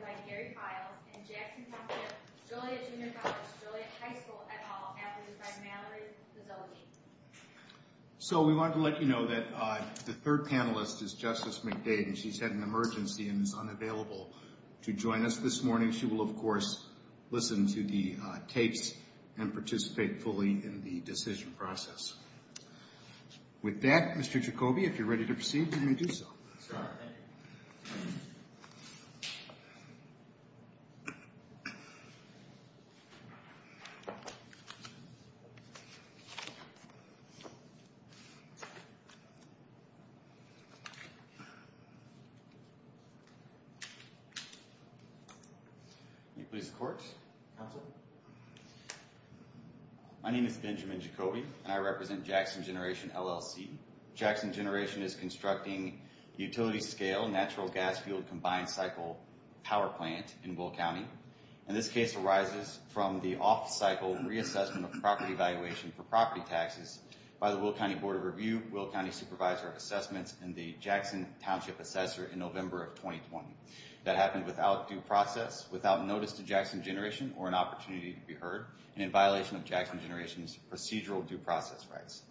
by Gary Files and Jackson County of Joliet Junior College, Joliet High School, et al. admitted by Mallory Vizzotti. So we wanted to let you know that the third panelist is Justice McDade and she's had an emergency and is unavailable to join us this morning. She will, of course, listen to the tapes and participate fully in the decision process. With that, Mr. Jacoby, if you're ready to proceed, you may do so. Scott, thank you. My name is Benjamin Jacoby and I represent Jackson Generation, LLC. Jackson Generation is constructing a utility-scale natural gas fuel combined cycle power plant in Will County. And this case arises from the off-cycle reassessment of property valuation for property taxes by the Will County Board of Review, Will County Supervisor of Assessments, and the Jackson Township Assessor in November of 2020. That happened without due process, without notice to Jackson Generation, or an opportunity to be heard, and in violation of Jackson Generation's procedural due process rights.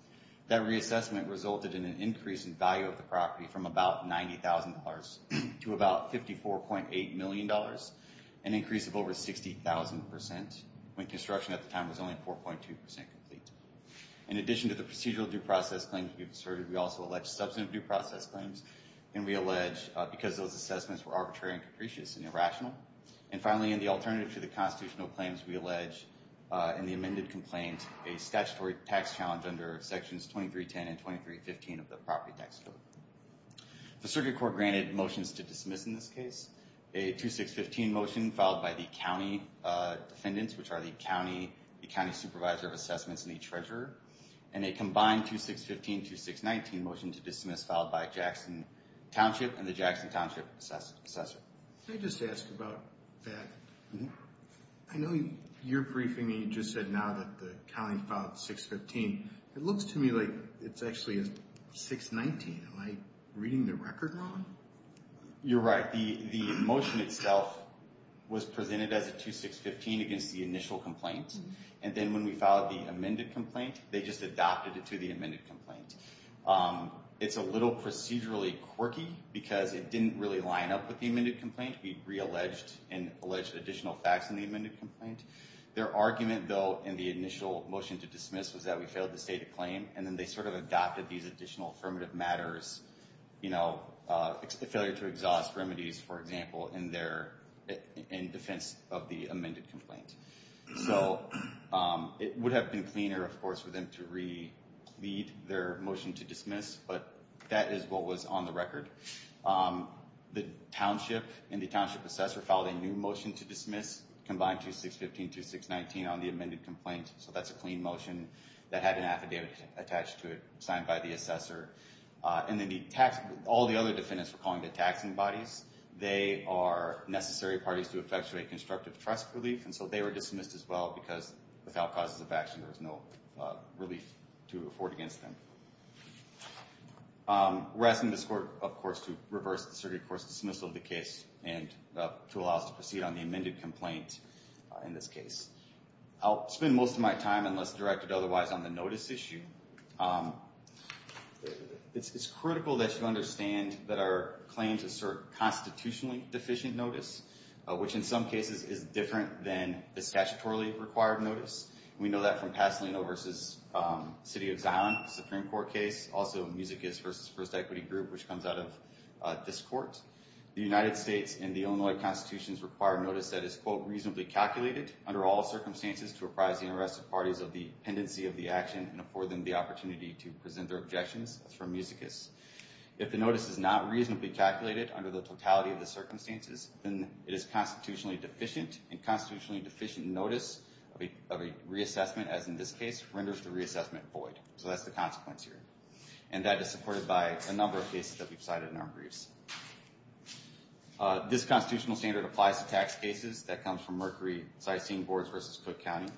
That reassessment resulted in an increase in value of the property from about $90,000 to about $54.8 million, an increase of over 60,000% when construction at the time was only 4.2% complete. In addition to the procedural due process claims we've asserted, we also allege substantive due process claims, and we allege because those assessments were arbitrary and capricious and irrational. And finally, in the alternative to the constitutional claims, we allege in the amended complaint a statutory tax challenge under Sections 2310 and 2315 of the Property Tax Code. The Circuit Court granted motions to dismiss in this case, a 2615 motion followed by the County Defendants, which are the County Supervisor of Assessments and the Treasurer, and a combined 2615-2619 motion to dismiss followed by a Jackson Township and the Jackson Township Assessor. Can I just ask about that? I know you're briefing me, you just said now that the county filed 615. It looks to me like it's actually a 619, am I reading the record wrong? You're right. The motion itself was presented as a 2615 against the initial complaint, and then when we filed the amended complaint, they just adopted it to the amended complaint. It's a little procedurally quirky because it didn't really line up with the amended complaint. We re-alleged and alleged additional facts in the amended complaint. Their argument, though, in the initial motion to dismiss was that we failed to state a claim, and then they sort of adopted these additional affirmative matters, you know, the failure to exhaust remedies, for example, in defense of the amended complaint. So, it would have been cleaner, of course, for them to re-lead their motion to dismiss, but that is what was on the record. The Township and the Township Assessor filed a new motion to dismiss, combined 2615-2619 on the amended complaint, so that's a clean motion that had an affidavit attached to it signed by the Assessor, and then all the other defendants we're calling the taxing bodies, they are necessary parties to effectuate constructive trust relief, and so they were dismissed as well because without causes of action, there was no relief to afford against them. We're asking this court, of course, to reverse the circuit court's dismissal of the case and to allow us to proceed on the amended complaint in this case. I'll spend most of my time, unless directed otherwise, on the notice issue. It's critical that you understand that our claims assert constitutionally deficient notice, which in some cases is different than the statutorily required notice. We know that from Pasolino v. City of Zion, a Supreme Court case, also Musicus v. First Equity Group, which comes out of this court. The United States and the Illinois constitutions require notice that is, quote, reasonably calculated under all circumstances to apprise the interested parties of the pendency of the action and afford them the opportunity to present their objections, that's from Musicus. If the notice is not reasonably calculated under the totality of the circumstances, then it is constitutionally deficient, and constitutionally deficient notice of a reassessment, as in this case, renders the reassessment void, so that's the consequence here. And that is supported by a number of cases that we've cited in our briefs. This constitutional standard applies to tax cases that comes from Mercury-System Boards v. Cook County,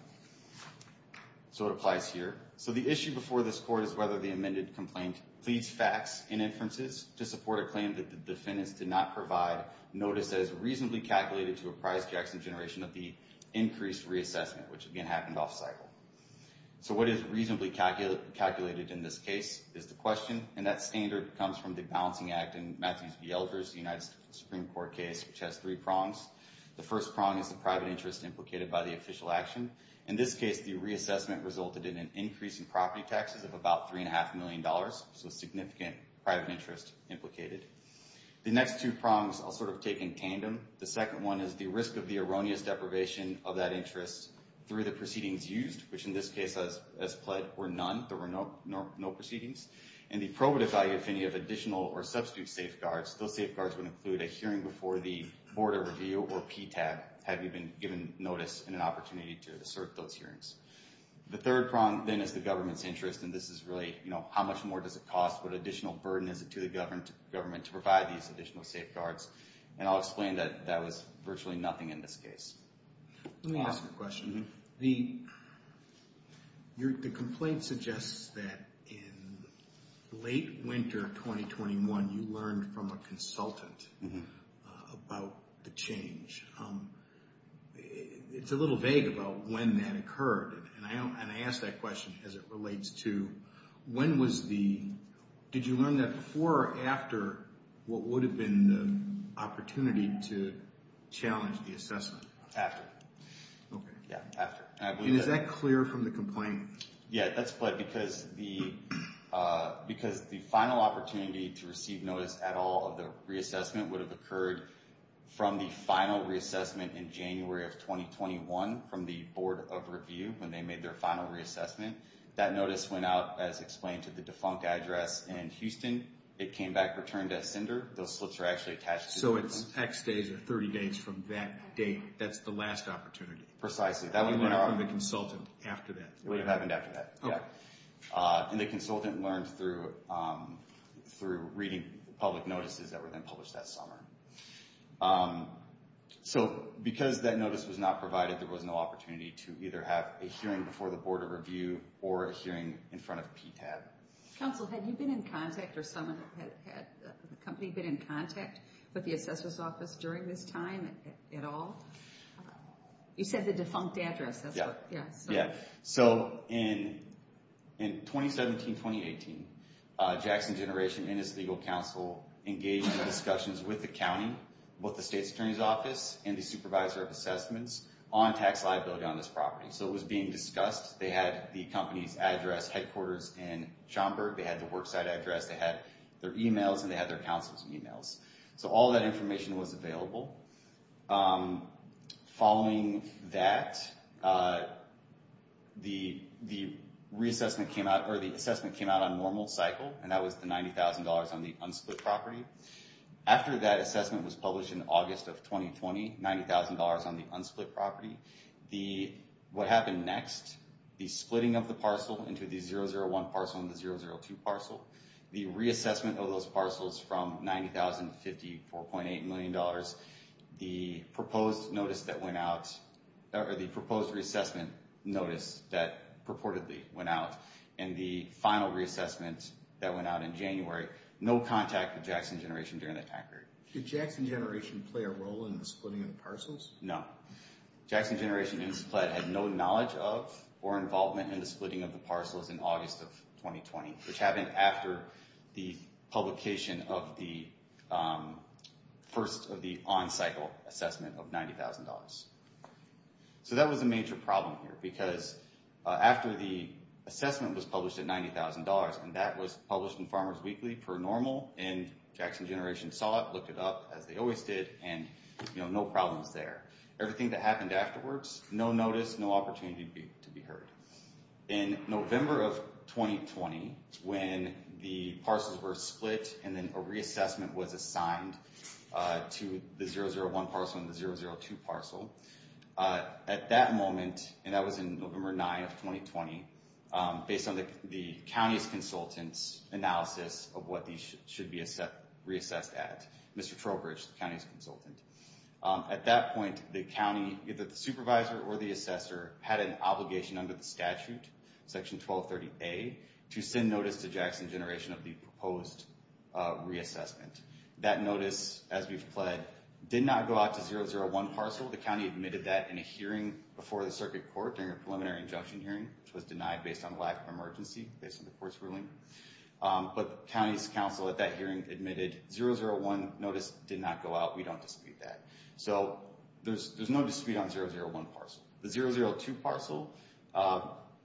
so it applies here. So the issue before this court is whether the amended complaint pleads facts in inferences to support a claim that the defendants did not provide notice that is reasonably calculated to apprise Jackson Generation of the increased reassessment, which again, happened off-cycle. So what is reasonably calculated in this case is the question, and that standard comes from the Balancing Act and Matthews v. Elders, the United States Supreme Court case, which has three prongs. The first prong is the private interest implicated by the official action. In this case, the reassessment resulted in an increase in property taxes of about three and a half million dollars, so significant private interest implicated. The next two prongs I'll sort of take in tandem. The second one is the risk of the erroneous deprivation of that interest through the proceedings used, which in this case, as pled, were none, there were no proceedings. And the probative value, if any, of additional or substitute safeguards, those safeguards would include a hearing before the Board of Review or PTAB, have you been given notice and an opportunity to assert those hearings. The third prong, then, is the government's interest, and this is really, you know, how much more does it cost, what additional burden is it to the government to provide these additional safeguards? And I'll explain that that was virtually nothing in this case. Let me ask a question. The complaint suggests that in late winter 2021, you learned from a consultant about the change. It's a little vague about when that occurred, and I ask that question as it relates to when was the, did you learn that before or after what would have been the opportunity to challenge the assessment? After. Okay. Yeah. After. And is that clear from the complaint? Yeah, that's pled, because the final opportunity to receive notice at all of the reassessment would have occurred from the final reassessment in January of 2021 from the Board of Review when they made their final reassessment. That notice went out, as explained, to the defunct address in Houston. It came back returned as sender. Those slips are actually attached to the complaint. So it's X days or 30 days from that date. That's the last opportunity. Precisely. That would have been our... You learned from the consultant after that. It would have happened after that. Okay. Yeah. And the consultant learned through reading public notices that were then published that summer. So because that notice was not provided, there was no opportunity to either have a hearing before the Board of Review or a hearing in front of PTAB. Counsel, had you been in contact or someone had, had the company been in contact with You said the defunct address. Yeah. Yeah. So in 2017, 2018, Jackson Generation and its legal counsel engaged in discussions with the county, both the State's Attorney's Office and the Supervisor of Assessments on tax liability on this property. So it was being discussed. They had the company's address, headquarters in Schaumburg, they had the worksite address, they had their emails, and they had their counsel's emails. So all of that information was available. Following that, the reassessment came out or the assessment came out on normal cycle and that was the $90,000 on the unsplit property. After that assessment was published in August of 2020, $90,000 on the unsplit property. What happened next, the splitting of the parcel into the 001 parcel and the 002 parcel. The reassessment of those parcels from $90,000 to $54.8 million. The proposed notice that went out or the proposed reassessment notice that purportedly went out and the final reassessment that went out in January, no contact with Jackson Generation during that time period. Did Jackson Generation play a role in the splitting of the parcels? No. Jackson Generation had no knowledge of or involvement in the splitting of the parcels in August of 2020, which happened after the publication of the first of the on-cycle assessment of $90,000. So that was a major problem here because after the assessment was published at $90,000 and that was published in Farmers Weekly for normal and Jackson Generation saw it, looked it up as they always did and no problems there. Everything that happened afterwards, no notice, no opportunity to be heard. In November of 2020, when the parcels were split and then a reassessment was assigned to the 001 parcel and the 002 parcel, at that moment, and that was in November 9 of 2020, based on the county's consultant's analysis of what these should be reassessed at, Mr. Trowbridge, the county's consultant. At that point, the county, either the supervisor or the assessor, had an obligation under the statute, section 1230A, to send notice to Jackson Generation of the proposed reassessment. That notice, as we've pledged, did not go out to 001 parcel. The county admitted that in a hearing before the circuit court during a preliminary injunction hearing, which was denied based on lack of emergency, based on the court's ruling. But the county's counsel at that hearing admitted 001 notice did not go out. We don't dispute that. So there's no dispute on 001 parcel. The 002 parcel,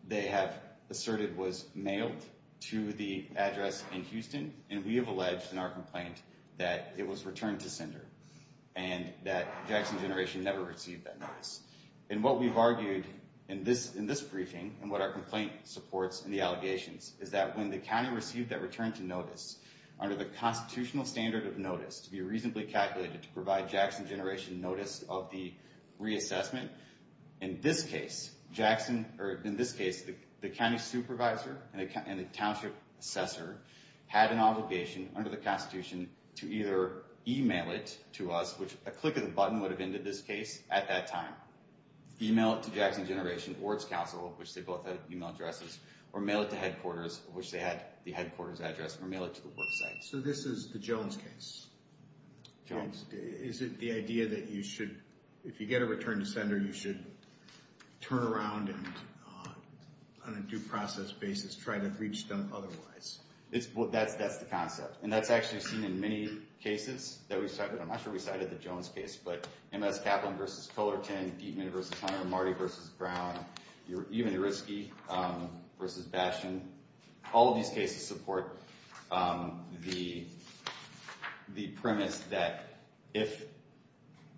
they have asserted, was mailed to the address in Houston, and we have alleged in our complaint that it was returned to sender and that Jackson Generation never received that notice. And what we've argued in this briefing and what our complaint supports in the allegations is that when the county received that return to notice, under the constitutional standard of notice, to be reasonably calculated to provide Jackson Generation notice of the reassessment, in this case, the county supervisor and the township assessor had an obligation under the constitution to either email it to us, which a click of the button would have ended this case at that time, email it to Jackson Generation or its counsel, which they both had email addresses, or mail it to headquarters, which they had the headquarters address, or mail it to the work site. So this is the Jones case? Jones. Is it the idea that you should, if you get a return to sender, you should turn around and on a due process basis try to reach them otherwise? That's the concept. And that's actually seen in many cases that we cited, I'm not sure we cited the Jones case, but M.S. Kaplan v. Cullerton, Dietman v. Hunter, Marty v. Brown, even Eritzke v. Bastian, all of these cases support the premise that if,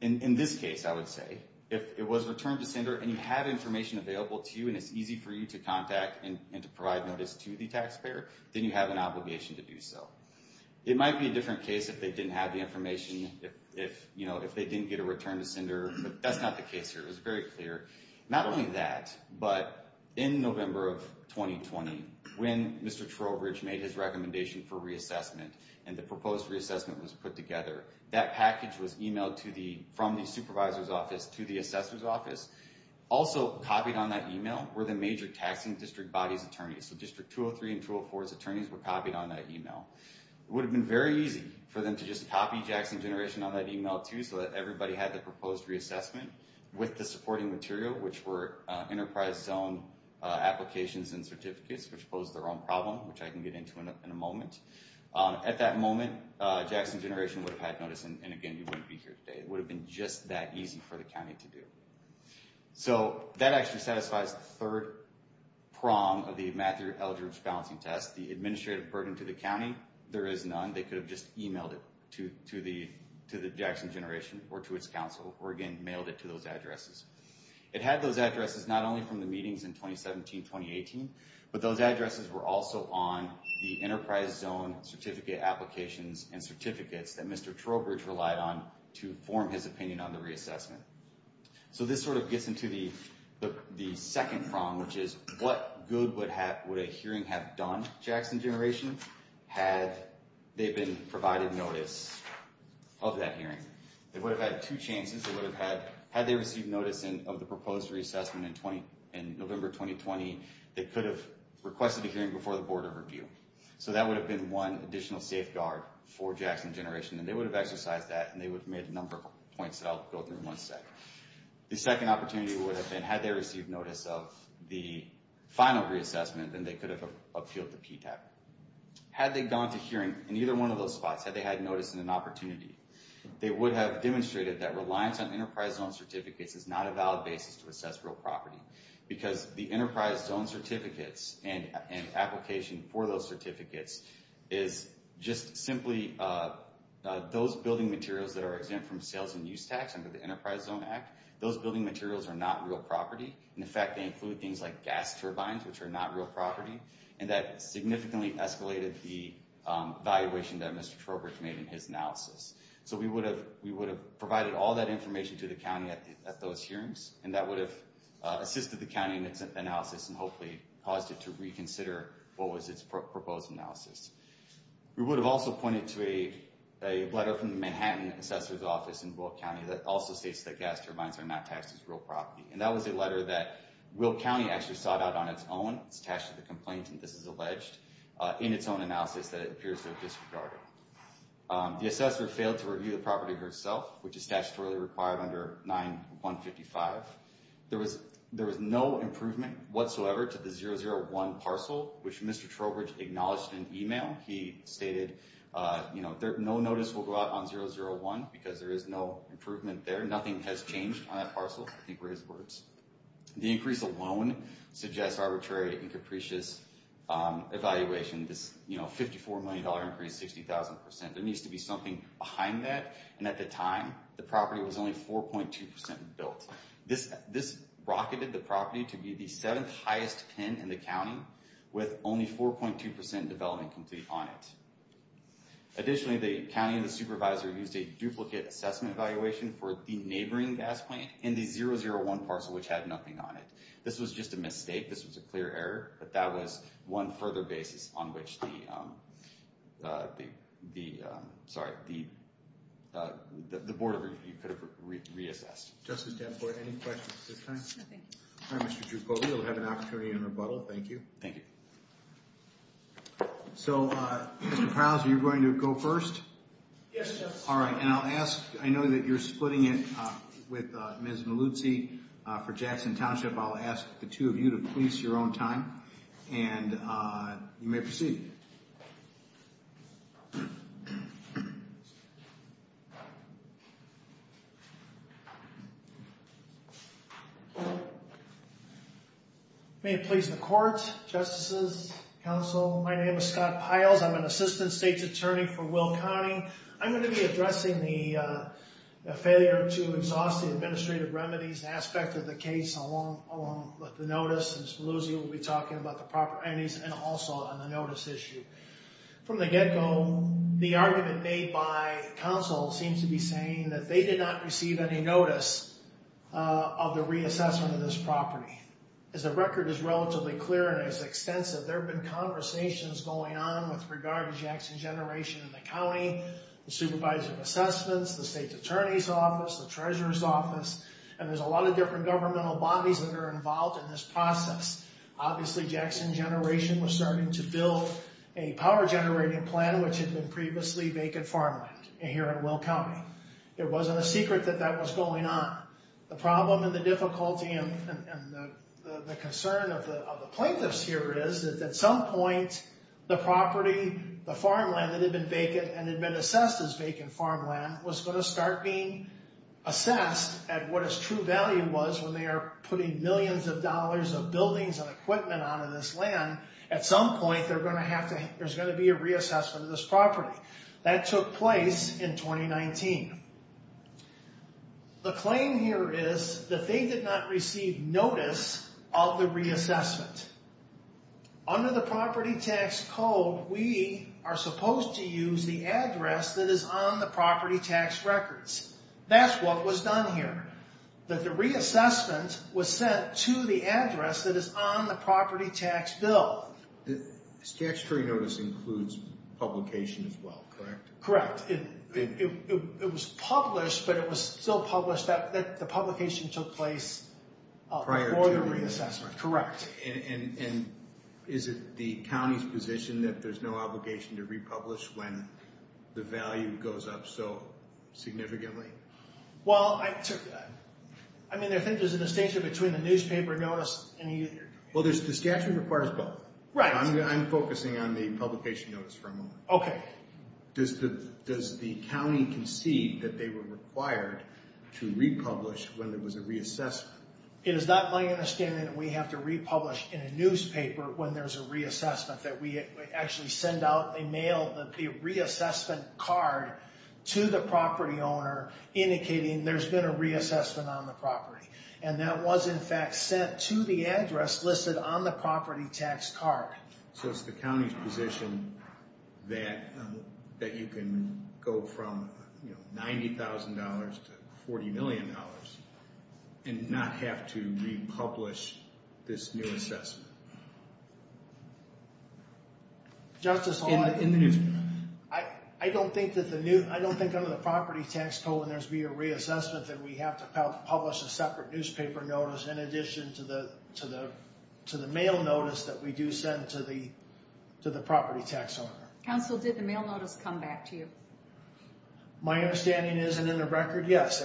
in this case I would say, if it was return to sender and you have information available to you and it's easy for you to contact and to provide notice to the taxpayer, then you have an obligation to do so. It might be a different case if they didn't have the information, if they didn't get a return to sender, but that's not the case here, it was very clear. Not only that, but in November of 2020, when Mr. Trowbridge made his recommendation for reassessment and the proposed reassessment was put together, that package was emailed to the, from the supervisor's office to the assessor's office. Also copied on that email were the major taxing district bodies' attorneys, so District 203 and 204's attorneys were copied on that email. It would have been very easy for them to just copy Jackson Generation on that email too so that everybody had the proposed reassessment with the supporting material, which were enterprise zone applications and certificates, which posed their own problem, which I can get into in a moment. At that moment, Jackson Generation would have had notice and again, you wouldn't be here today. It would have been just that easy for the county to do. So that actually satisfies the third prong of the Matthew Eldridge balancing test, the administrative burden to the county. There is none. They could have just emailed it to the Jackson Generation or to its council or again, mailed it to those addresses. It had those addresses not only from the meetings in 2017-2018, but those addresses were also on the enterprise zone certificate applications and certificates that Mr. Trowbridge relied on to form his opinion on the reassessment. So this sort of gets into the second prong, which is what good would a hearing have done for Jackson Generation had they been provided notice of that hearing? They would have had two chances. Had they received notice of the proposed reassessment in November 2020, they could have requested a hearing before the board of review. So that would have been one additional safeguard for Jackson Generation and they would have exercised that and they would have made a number of points that I'll go through in one sec. The second opportunity would have been, had they received notice of the final reassessment then they could have appealed to PTAP. Had they gone to hearing in either one of those spots, had they had notice and an opportunity, they would have demonstrated that reliance on enterprise zone certificates is not a valid basis to assess real property because the enterprise zone certificates and application for those certificates is just simply those building materials that are exempt from sales and use tax under the Enterprise Zone Act, those building materials are not real property. In fact, they include things like gas turbines, which are not real property and that significantly escalated the valuation that Mr. Trowbridge made in his analysis. So we would have provided all that information to the county at those hearings and that would have assisted the county in its analysis and hopefully caused it to reconsider what was its proposed analysis. We would have also pointed to a letter from the Manhattan Assessor's Office in Boyle County that also states that gas turbines are not taxed as real property and that was a letter that Boyle County actually sought out on its own, it's attached to the complaint and this is alleged, in its own analysis that it appears to have disregarded. The assessor failed to review the property herself, which is statutorily required under 9-155. There was no improvement whatsoever to the 001 parcel, which Mr. Trowbridge acknowledged in an email. He stated, you know, no notice will go out on 001 because there is no improvement there. Nothing has changed on that parcel, I think were his words. The increase alone suggests arbitrary and capricious evaluation, this, you know, $54 million increase, 60,000%. There needs to be something behind that and at the time the property was only 4.2% built. This rocketed the property to be the seventh highest pin in the county with only 4.2% development complete on it. Additionally, the county and the supervisor used a duplicate assessment evaluation for the neighboring gas plant and the 001 parcel, which had nothing on it. This was just a mistake, this was a clear error, but that was one further basis on which the, sorry, the Board of Revenue could have reassessed. Justice Danforth, any questions at this time? No, thank you. All right, Mr. Giufoli, you'll have an opportunity in rebuttal. Thank you. Thank you. So, Mr. Prowse, are you going to go first? Yes, Justice. All right. And I'll ask, I know that you're splitting it with Ms. Maluzzi for Jackson Township. I'll ask the two of you to please your own time and you may proceed. May it please the Court, Justices, Counsel, my name is Scott Piles. I'm an Assistant State's Attorney for Will County. I'm going to be addressing the failure to exhaust the administrative remedies aspect of the case along with the notice, and Ms. Maluzzi will be talking about the properties and also on the notice issue. From the get-go, the argument made by counsel seems to be saying that they did not receive any notice of the reassessment of this property. As the record is relatively clear and as extensive, there have been conversations going on with regard to Jackson Generation in the county, the Supervisor of Assessments, the State's Attorney's Office, the Treasurer's Office, and there's a lot of different governmental bodies that are involved in this process. Obviously, Jackson Generation was starting to build a power generating plant which had been previously vacant farmland here in Will County. It wasn't a secret that that was going on. The problem and the difficulty and the concern of the plaintiffs here is that at some point the property, the farmland that had been vacant and had been assessed as vacant farmland was going to start being assessed at what its true value was when they are putting millions of dollars of buildings and equipment onto this land. At some point, there's going to be a reassessment of this property. That took place in 2019. The claim here is that they did not receive notice of the reassessment. Under the property tax code, we are supposed to use the address that is on the property tax records. That's what was done here. The reassessment was sent to the address that is on the property tax bill. The statutory notice includes publication as well, correct? Correct. It was published, but it was still published that the publication took place prior to the reassessment. Correct. Is it the county's position that there's no obligation to republish when the value goes up so significantly? I mean, I think there's a distinction between a newspaper notice and a... Well, the statute requires both. Right. I'm focusing on the publication notice for a moment. Okay. Does the county concede that they were required to republish when there was a reassessment? It is not my understanding that we have to republish in a newspaper when there's a reassessment, that we actually send out a mail, the reassessment card to the property owner indicating there's been a reassessment on the property. And that was, in fact, sent to the address listed on the property tax card. So it's the county's position that you can go from $90,000 to $40 million and not have to republish this new assessment. Justice Hall, I don't think under the property tax code when there's been a reassessment that we have to publish a separate newspaper notice in addition to the mail notice that we do send to the property tax owner. Counsel, did the mail notice come back to you? My understanding isn't in the record, yes.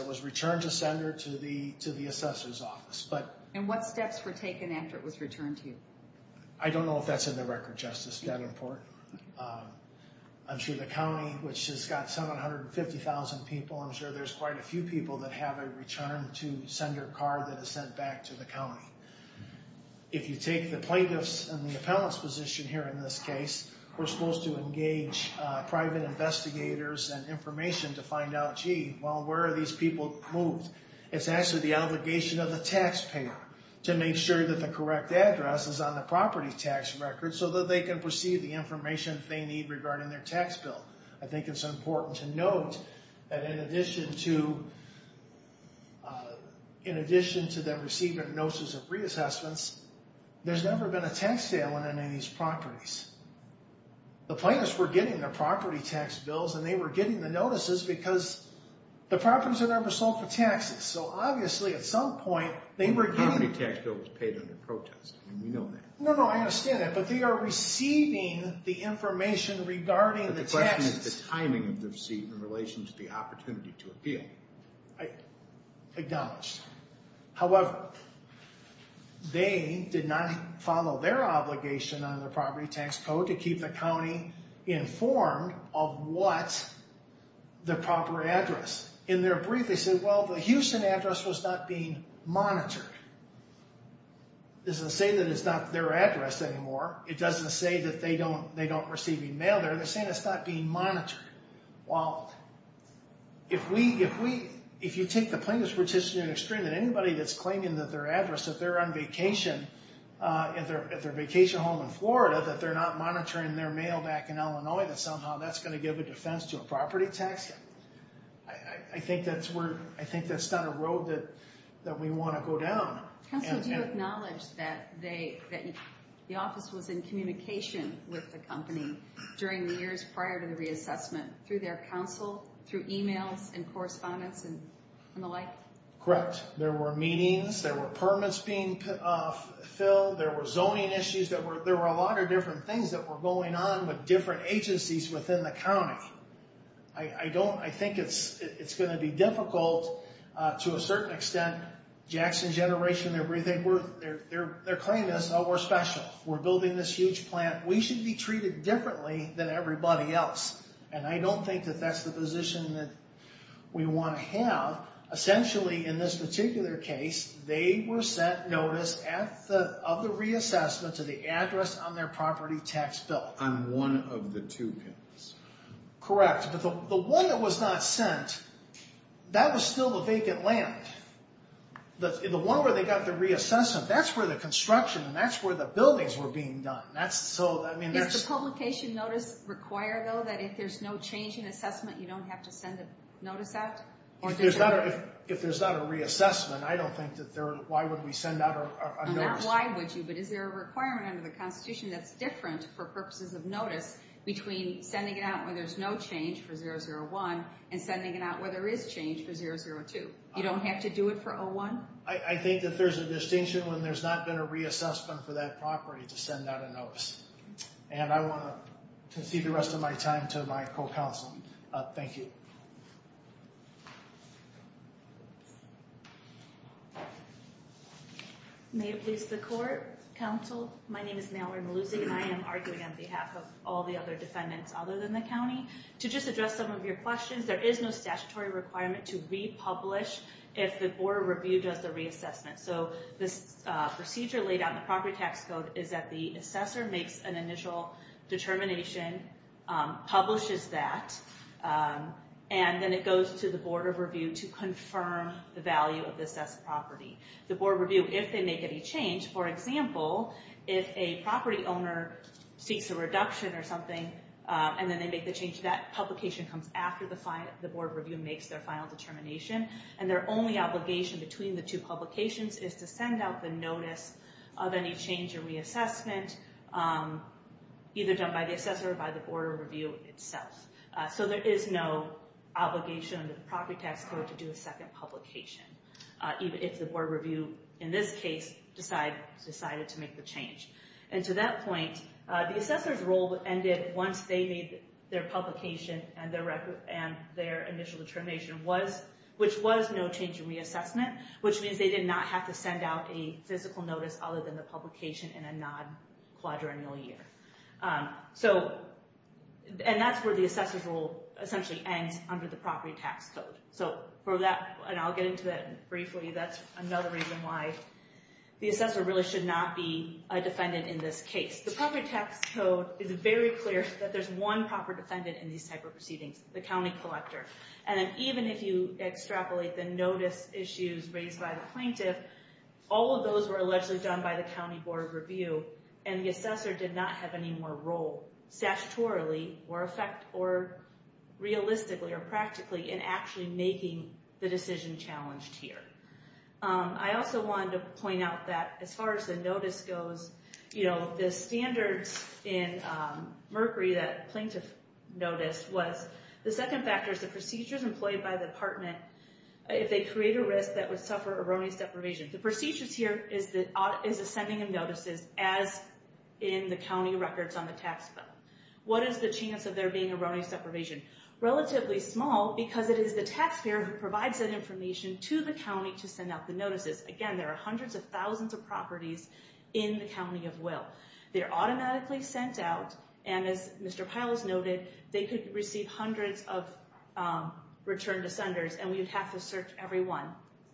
And what steps were taken after it was returned to you? I don't know if that's in the record, Justice, that important. I'm sure the county, which has got 750,000 people, I'm sure there's quite a few people that have a return to sender card that is sent back to the county. If you take the plaintiffs and the appellant's position here in this case, we're supposed to engage private investigators and information to find out, gee, well, where are these people moved? It's actually the obligation of the taxpayer to make sure that the correct address is on the property tax record so that they can receive the information they need regarding their tax bill. I think it's important to note that in addition to them receiving notices of reassessments, there's never been a tax sale on any of these properties. The plaintiffs were getting their property tax bills and they were getting the notices because the properties are never sold for taxes. So obviously at some point they were getting... The property tax bill was paid under protest. We know that. No, no, I understand that. But they are receiving the information regarding the taxes. But the question is the timing of the receipt in relation to the opportunity to appeal. Acknowledged. of what the proper address. In their brief, they said, well, the Houston address was not being monitored. It doesn't say that it's not their address anymore. It doesn't say that they don't receive any mail there. They're saying it's not being monitored. Well, if you take the plaintiffs' position to an extreme, that anybody that's claiming that their address, that they're on vacation at their vacation home in Florida, that they're not monitoring their mail back in Illinois, that somehow that's going to give a defense to a property tax. I think that's not a road that we want to go down. Counsel, do you acknowledge that the office was in communication with the company during the years prior to the reassessment through their counsel, through emails and correspondence and the like? Correct. There were meetings. There were permits being filled. There were zoning issues. There were a lot of different things that were going on with different agencies within the county. I think it's going to be difficult to a certain extent. Jackson Generation, their claim is, oh, we're special. We're building this huge plant. We should be treated differently than everybody else. And I don't think that that's the position that we want to have. Essentially, in this particular case, they were sent notice of the reassessment to the address on their property tax bill. On one of the two. Correct. But the one that was not sent, that was still the vacant land. The one where they got the reassessment, that's where the construction and that's where the buildings were being done. Does the publication notice require, though, that if there's no change in assessment, you don't have to send a notice out? If there's not a reassessment, I don't think that there, why would we send out a notice? Not why would you, but is there a requirement under the Constitution that's different for purposes of notice between sending it out where there's no change for 001 and sending it out where there is change for 002? You don't have to do it for 01? I think that there's a distinction when there's not been a reassessment for that property to send out a notice. And I want to concede the rest of my time to my co-counsel. Thank you. May it please the court. Counsel, my name is Mallory Malusi and I am arguing on behalf of all the other defendants other than the county. To just address some of your questions, there is no statutory requirement to republish if the Board of Review does the reassessment. So this procedure laid out in the property tax code is that the assessor makes an initial determination, publishes that, and then it goes to the Board of Review to confirm the value of the assessed property. The Board of Review, if they make any change, for example, if a property owner seeks a reduction or something and then they make the change, that publication comes after the Board of Review makes their final determination. And their only obligation between the two publications is to send out the notice of any change or reassessment, either done by the assessor or by the Board of Review itself. So there is no obligation under the property tax code to do a second publication, even if the Board of Review, in this case, decided to make the change. And to that point, the assessor's role ended once they made their publication and their initial determination, which was no change in reassessment, which means they did not have to send out a physical notice other than the publication in a non-quadrennial year. And that's where the assessor's role essentially ends under the property tax code. So for that, and I'll get into that briefly, that's another reason why the assessor really should not be a defendant in this case. The property tax code is very clear that there's one proper defendant in these type of proceedings, the county collector. And even if you extrapolate the notice issues raised by the plaintiff, all of those were allegedly done by the county Board of Review, and the assessor did not have any more role, statutorily or realistically or practically, in actually making the decision challenged here. I also wanted to point out that as far as the notice goes, you know, the standards in Mercury that plaintiff noticed was the second factor is the procedures employed by the department, if they create a risk that would suffer erroneous deprivation. The procedures here is the sending of notices as in the county records on the tax bill. What is the chance of there being erroneous deprivation? Relatively small because it is the taxpayer who provides that information to the county to send out the notices. Again, there are hundreds of thousands of properties in the county of will. They're automatically sent out, and as Mr. Piles noted, they could receive hundreds of return to senders, and we would have to search every one.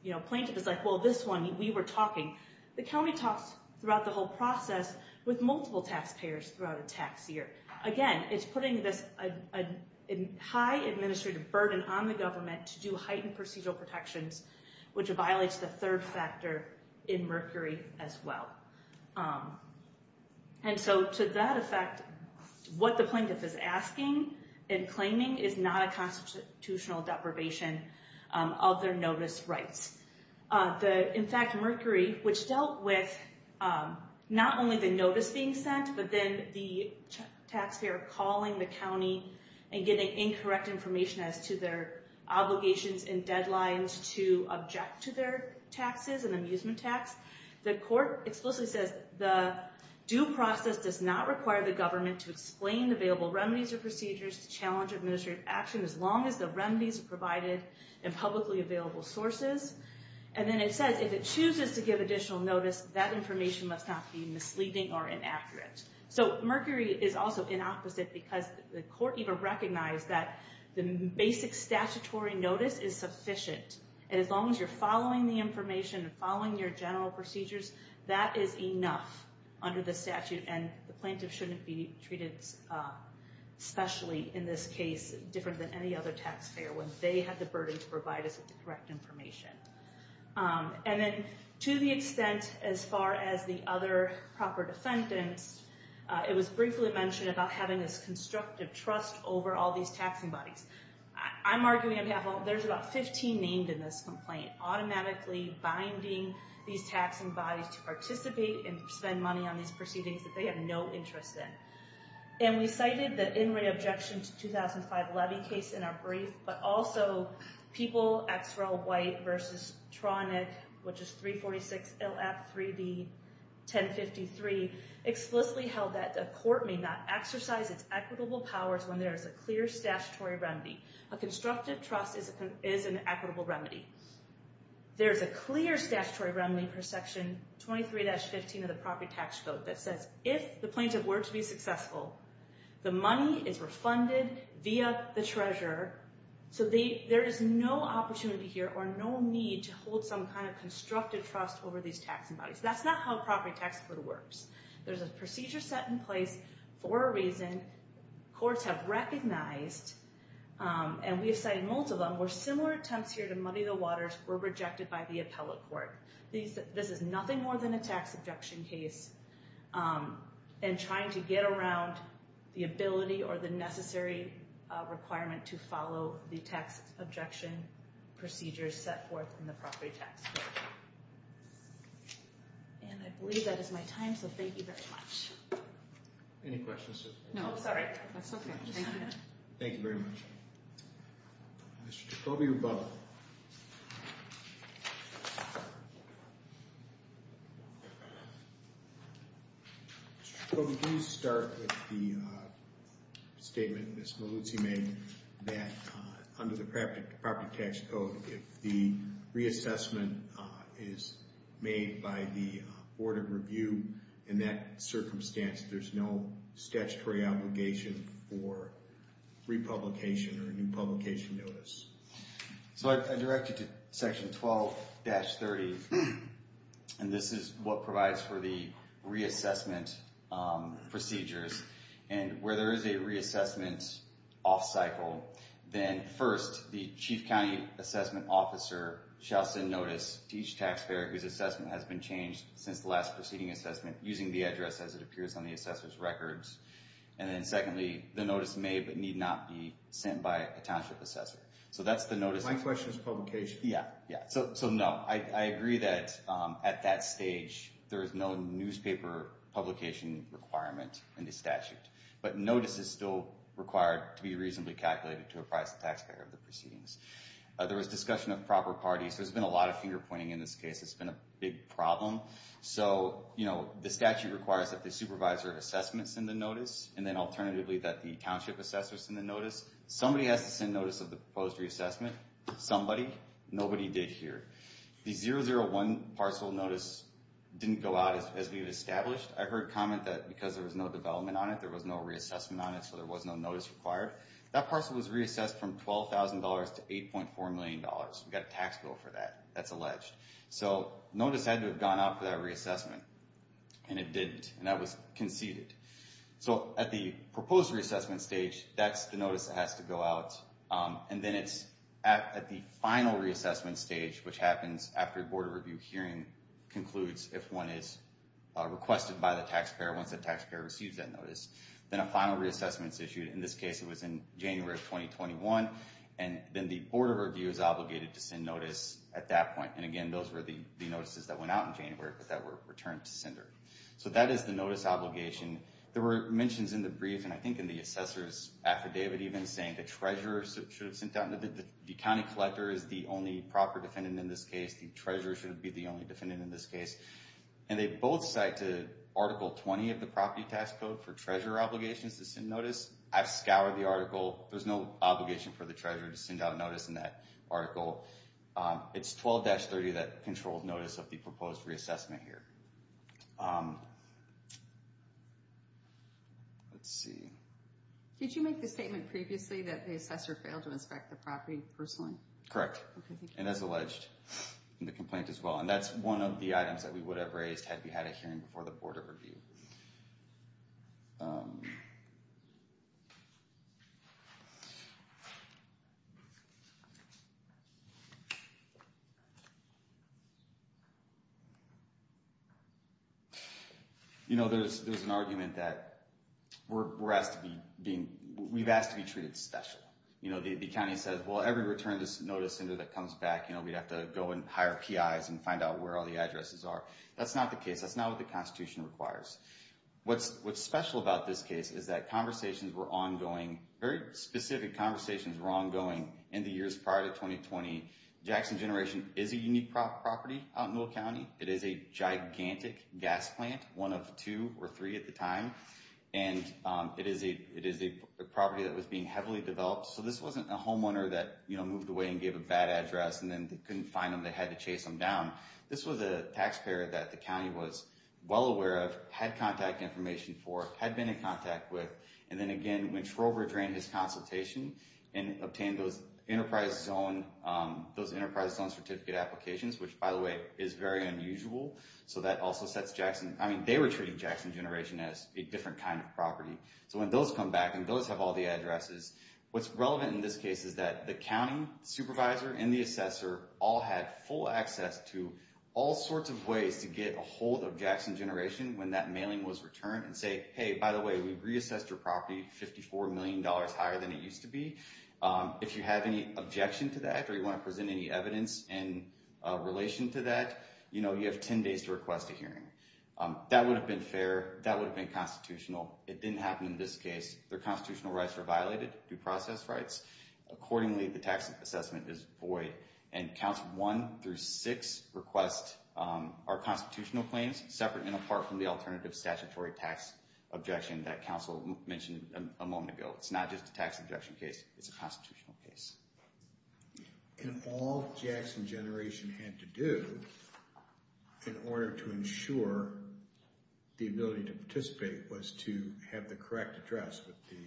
You know, plaintiff is like, well, this one, we were talking. The county talks throughout the whole process with multiple taxpayers throughout a tax year. Again, it's putting this high administrative burden on the government to do heightened procedural protections, which violates the third factor in Mercury as well. And so to that effect, what the plaintiff is asking and claiming is not a constitutional deprivation of their notice rights. In fact, Mercury, which dealt with not only the notice being sent, but then the taxpayer calling the county and getting incorrect information as to their obligations and deadlines to object to their taxes and amusement tax. The court explicitly says the due process does not require the government to explain available remedies or procedures to challenge administrative action as long as the remedies are provided in publicly available sources. And then it says if it chooses to give additional notice, that information must not be misleading or inaccurate. So Mercury is also inopposite because the court even recognized that the basic statutory notice is sufficient. And as long as you're following the information and following your general procedures, that is enough under the statute. And the plaintiff shouldn't be treated specially in this case, different than any other taxpayer, when they have the burden to provide us with the correct information. And then to the extent, as far as the other proper defendants, it was briefly mentioned about having this constructive trust over all these taxing bodies. I'm arguing there's about 15 named in this complaint, automatically binding these taxing bodies to participate and spend money on these proceedings that they have no interest in. And we cited the in-ring objection to 2005 levy case in our brief, but also people, XREL White versus TRONIC, which is 346LF3B1053, explicitly held that the court may not exercise its equitable powers when there is a clear statutory remedy. A constructive trust is an equitable remedy. There's a clear statutory remedy per section 23-15 of the property tax code that says if the plaintiff were to be successful, the money is refunded via the treasurer. So there is no opportunity here or no need to hold some kind of constructive trust over these taxing bodies. That's not how a property tax code works. There's a procedure set in place for a reason. Courts have recognized, and we have cited multiple of them, where similar attempts here to muddy the waters were rejected by the appellate court. This is nothing more than a tax objection case and trying to get around the ability or the necessary requirement to follow the tax objection procedures set forth in the property tax code. And I believe that is my time, so thank you very much. Any questions? No, sorry. That's okay. Thank you. Thank you very much. Mr. Jacobi-Rubato. Mr. Jacobi, please start with the statement Ms. Maluzzi made that under the property tax code, if the reassessment is made by the Board of Review, in that circumstance, there's no statutory obligation for republication or a new publication notice. So I direct you to section 12-30, and this is what provides for the reassessment procedures. And where there is a reassessment off cycle, then first, the chief county assessment officer shall send notice to each taxpayer whose assessment has been changed since the last proceeding assessment using the address as it appears on the assessor's records. And then secondly, the notice may but need not be sent by a township assessor. My question is publication. Yeah, yeah. So no, I agree that at that stage, there is no newspaper publication requirement in the statute. But notice is still required to be reasonably calculated to apprise the taxpayer of the proceedings. There was discussion of proper parties. There's been a lot of finger pointing in this case. It's been a big problem. So the statute requires that the supervisor of assessment send a notice, and then alternatively that the township assessor send a notice. Somebody has to send notice of the proposed reassessment. Somebody. Nobody did here. The 001 parcel notice didn't go out as we had established. I heard comment that because there was no development on it, there was no reassessment on it, so there was no notice required. That parcel was reassessed from $12,000 to $8.4 million. We got a tax bill for that. That's alleged. So notice had to have gone out for that reassessment. And it didn't. And that was conceded. So at the proposed reassessment stage, that's the notice that has to go out. And then it's at the final reassessment stage, which happens after the Board of Review hearing concludes if one is requested by the taxpayer once the taxpayer receives that notice. Then a final reassessment is issued. In this case, it was in January of 2021. And then the Board of Review is obligated to send notice at that point. And, again, those were the notices that went out in January but that were returned to sender. So that is the notice obligation. There were mentions in the brief and I think in the assessor's affidavit even saying the treasurer should have sent out. The county collector is the only proper defendant in this case. The treasurer should be the only defendant in this case. And they both cite to Article 20 of the Property Tax Code for treasurer obligations to send notice. I've scoured the article. There's no obligation for the treasurer to send out a notice in that article. It's 12-30 that controlled notice of the proposed reassessment here. Let's see. Did you make the statement previously that the assessor failed to inspect the property personally? Correct. And as alleged in the complaint as well. And that's one of the items that we would have raised had we had a hearing before the Board of Review. Thank you. You know, there's an argument that we're asked to be treated special. You know, the county says, well, every return of this notice sender that comes back, you know, we'd have to go and hire PIs and find out where all the addresses are. That's not the case. That's not what the Constitution requires. What's special about this case is that conversations were ongoing. Very specific conversations were ongoing in the years prior to 2020. Jackson Generation is a unique property out in Will County. It is a gigantic gas plant, one of two or three at the time. And it is a property that was being heavily developed. So this wasn't a homeowner that, you know, moved away and gave a bad address and then couldn't find them. They had to chase them down. This was a taxpayer that the county was well aware of, had contact information for, had been in contact with. And then, again, when Trover drained his consultation and obtained those Enterprise Zone Certificate applications, which, by the way, is very unusual. So that also sets Jackson – I mean, they were treating Jackson Generation as a different kind of property. So when those come back and those have all the addresses, what's relevant in this case is that the county supervisor and the assessor all had full access to all sorts of ways to get a hold of Jackson Generation when that mailing was returned and say, hey, by the way, we've reassessed your property $54 million higher than it used to be. If you have any objection to that or you want to present any evidence in relation to that, you know, you have 10 days to request a hearing. That would have been fair. That would have been constitutional. It didn't happen in this case. Their constitutional rights were violated, due process rights. Accordingly, the tax assessment is void. And Council 1 through 6 request our constitutional claims separate and apart from the alternative statutory tax objection that Council mentioned a moment ago. It's not just a tax objection case. It's a constitutional case. And all Jackson Generation had to do in order to ensure the ability to participate was to have the correct address with the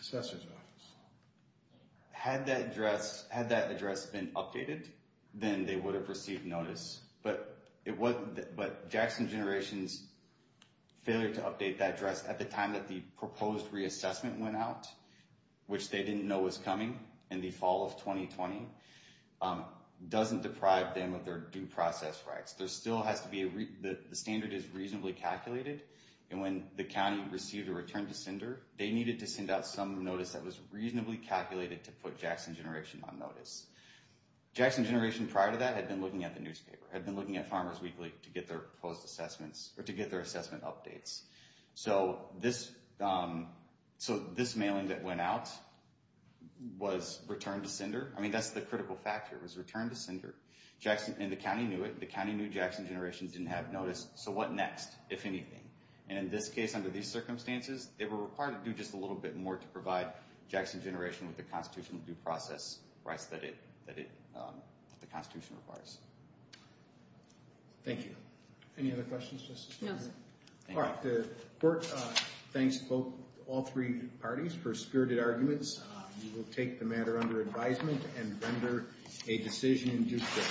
assessor's office. Had that address been updated, then they would have received notice. But Jackson Generation's failure to update that address at the time that the proposed reassessment went out, which they didn't know was coming in the fall of 2020, doesn't deprive them of their due process rights. The standard is reasonably calculated. And when the county received a return to sender, they needed to send out some notice that was reasonably calculated to put Jackson Generation on notice. Jackson Generation, prior to that, had been looking at the newspaper. Had been looking at Farmers Weekly to get their assessment updates. So this mailing that went out was return to sender. I mean, that's the critical factor. It was return to sender. And the county knew it. The county knew Jackson Generation didn't have notice. So what next, if anything? And in this case, under these circumstances, they were required to do just a little bit more to provide Jackson Generation with the constitutional due process rights that the Constitution requires. Thank you. Any other questions? No, sir. All right. The court thanks all three parties for spirited arguments. We will take the matter under advisement and render a decision in due course.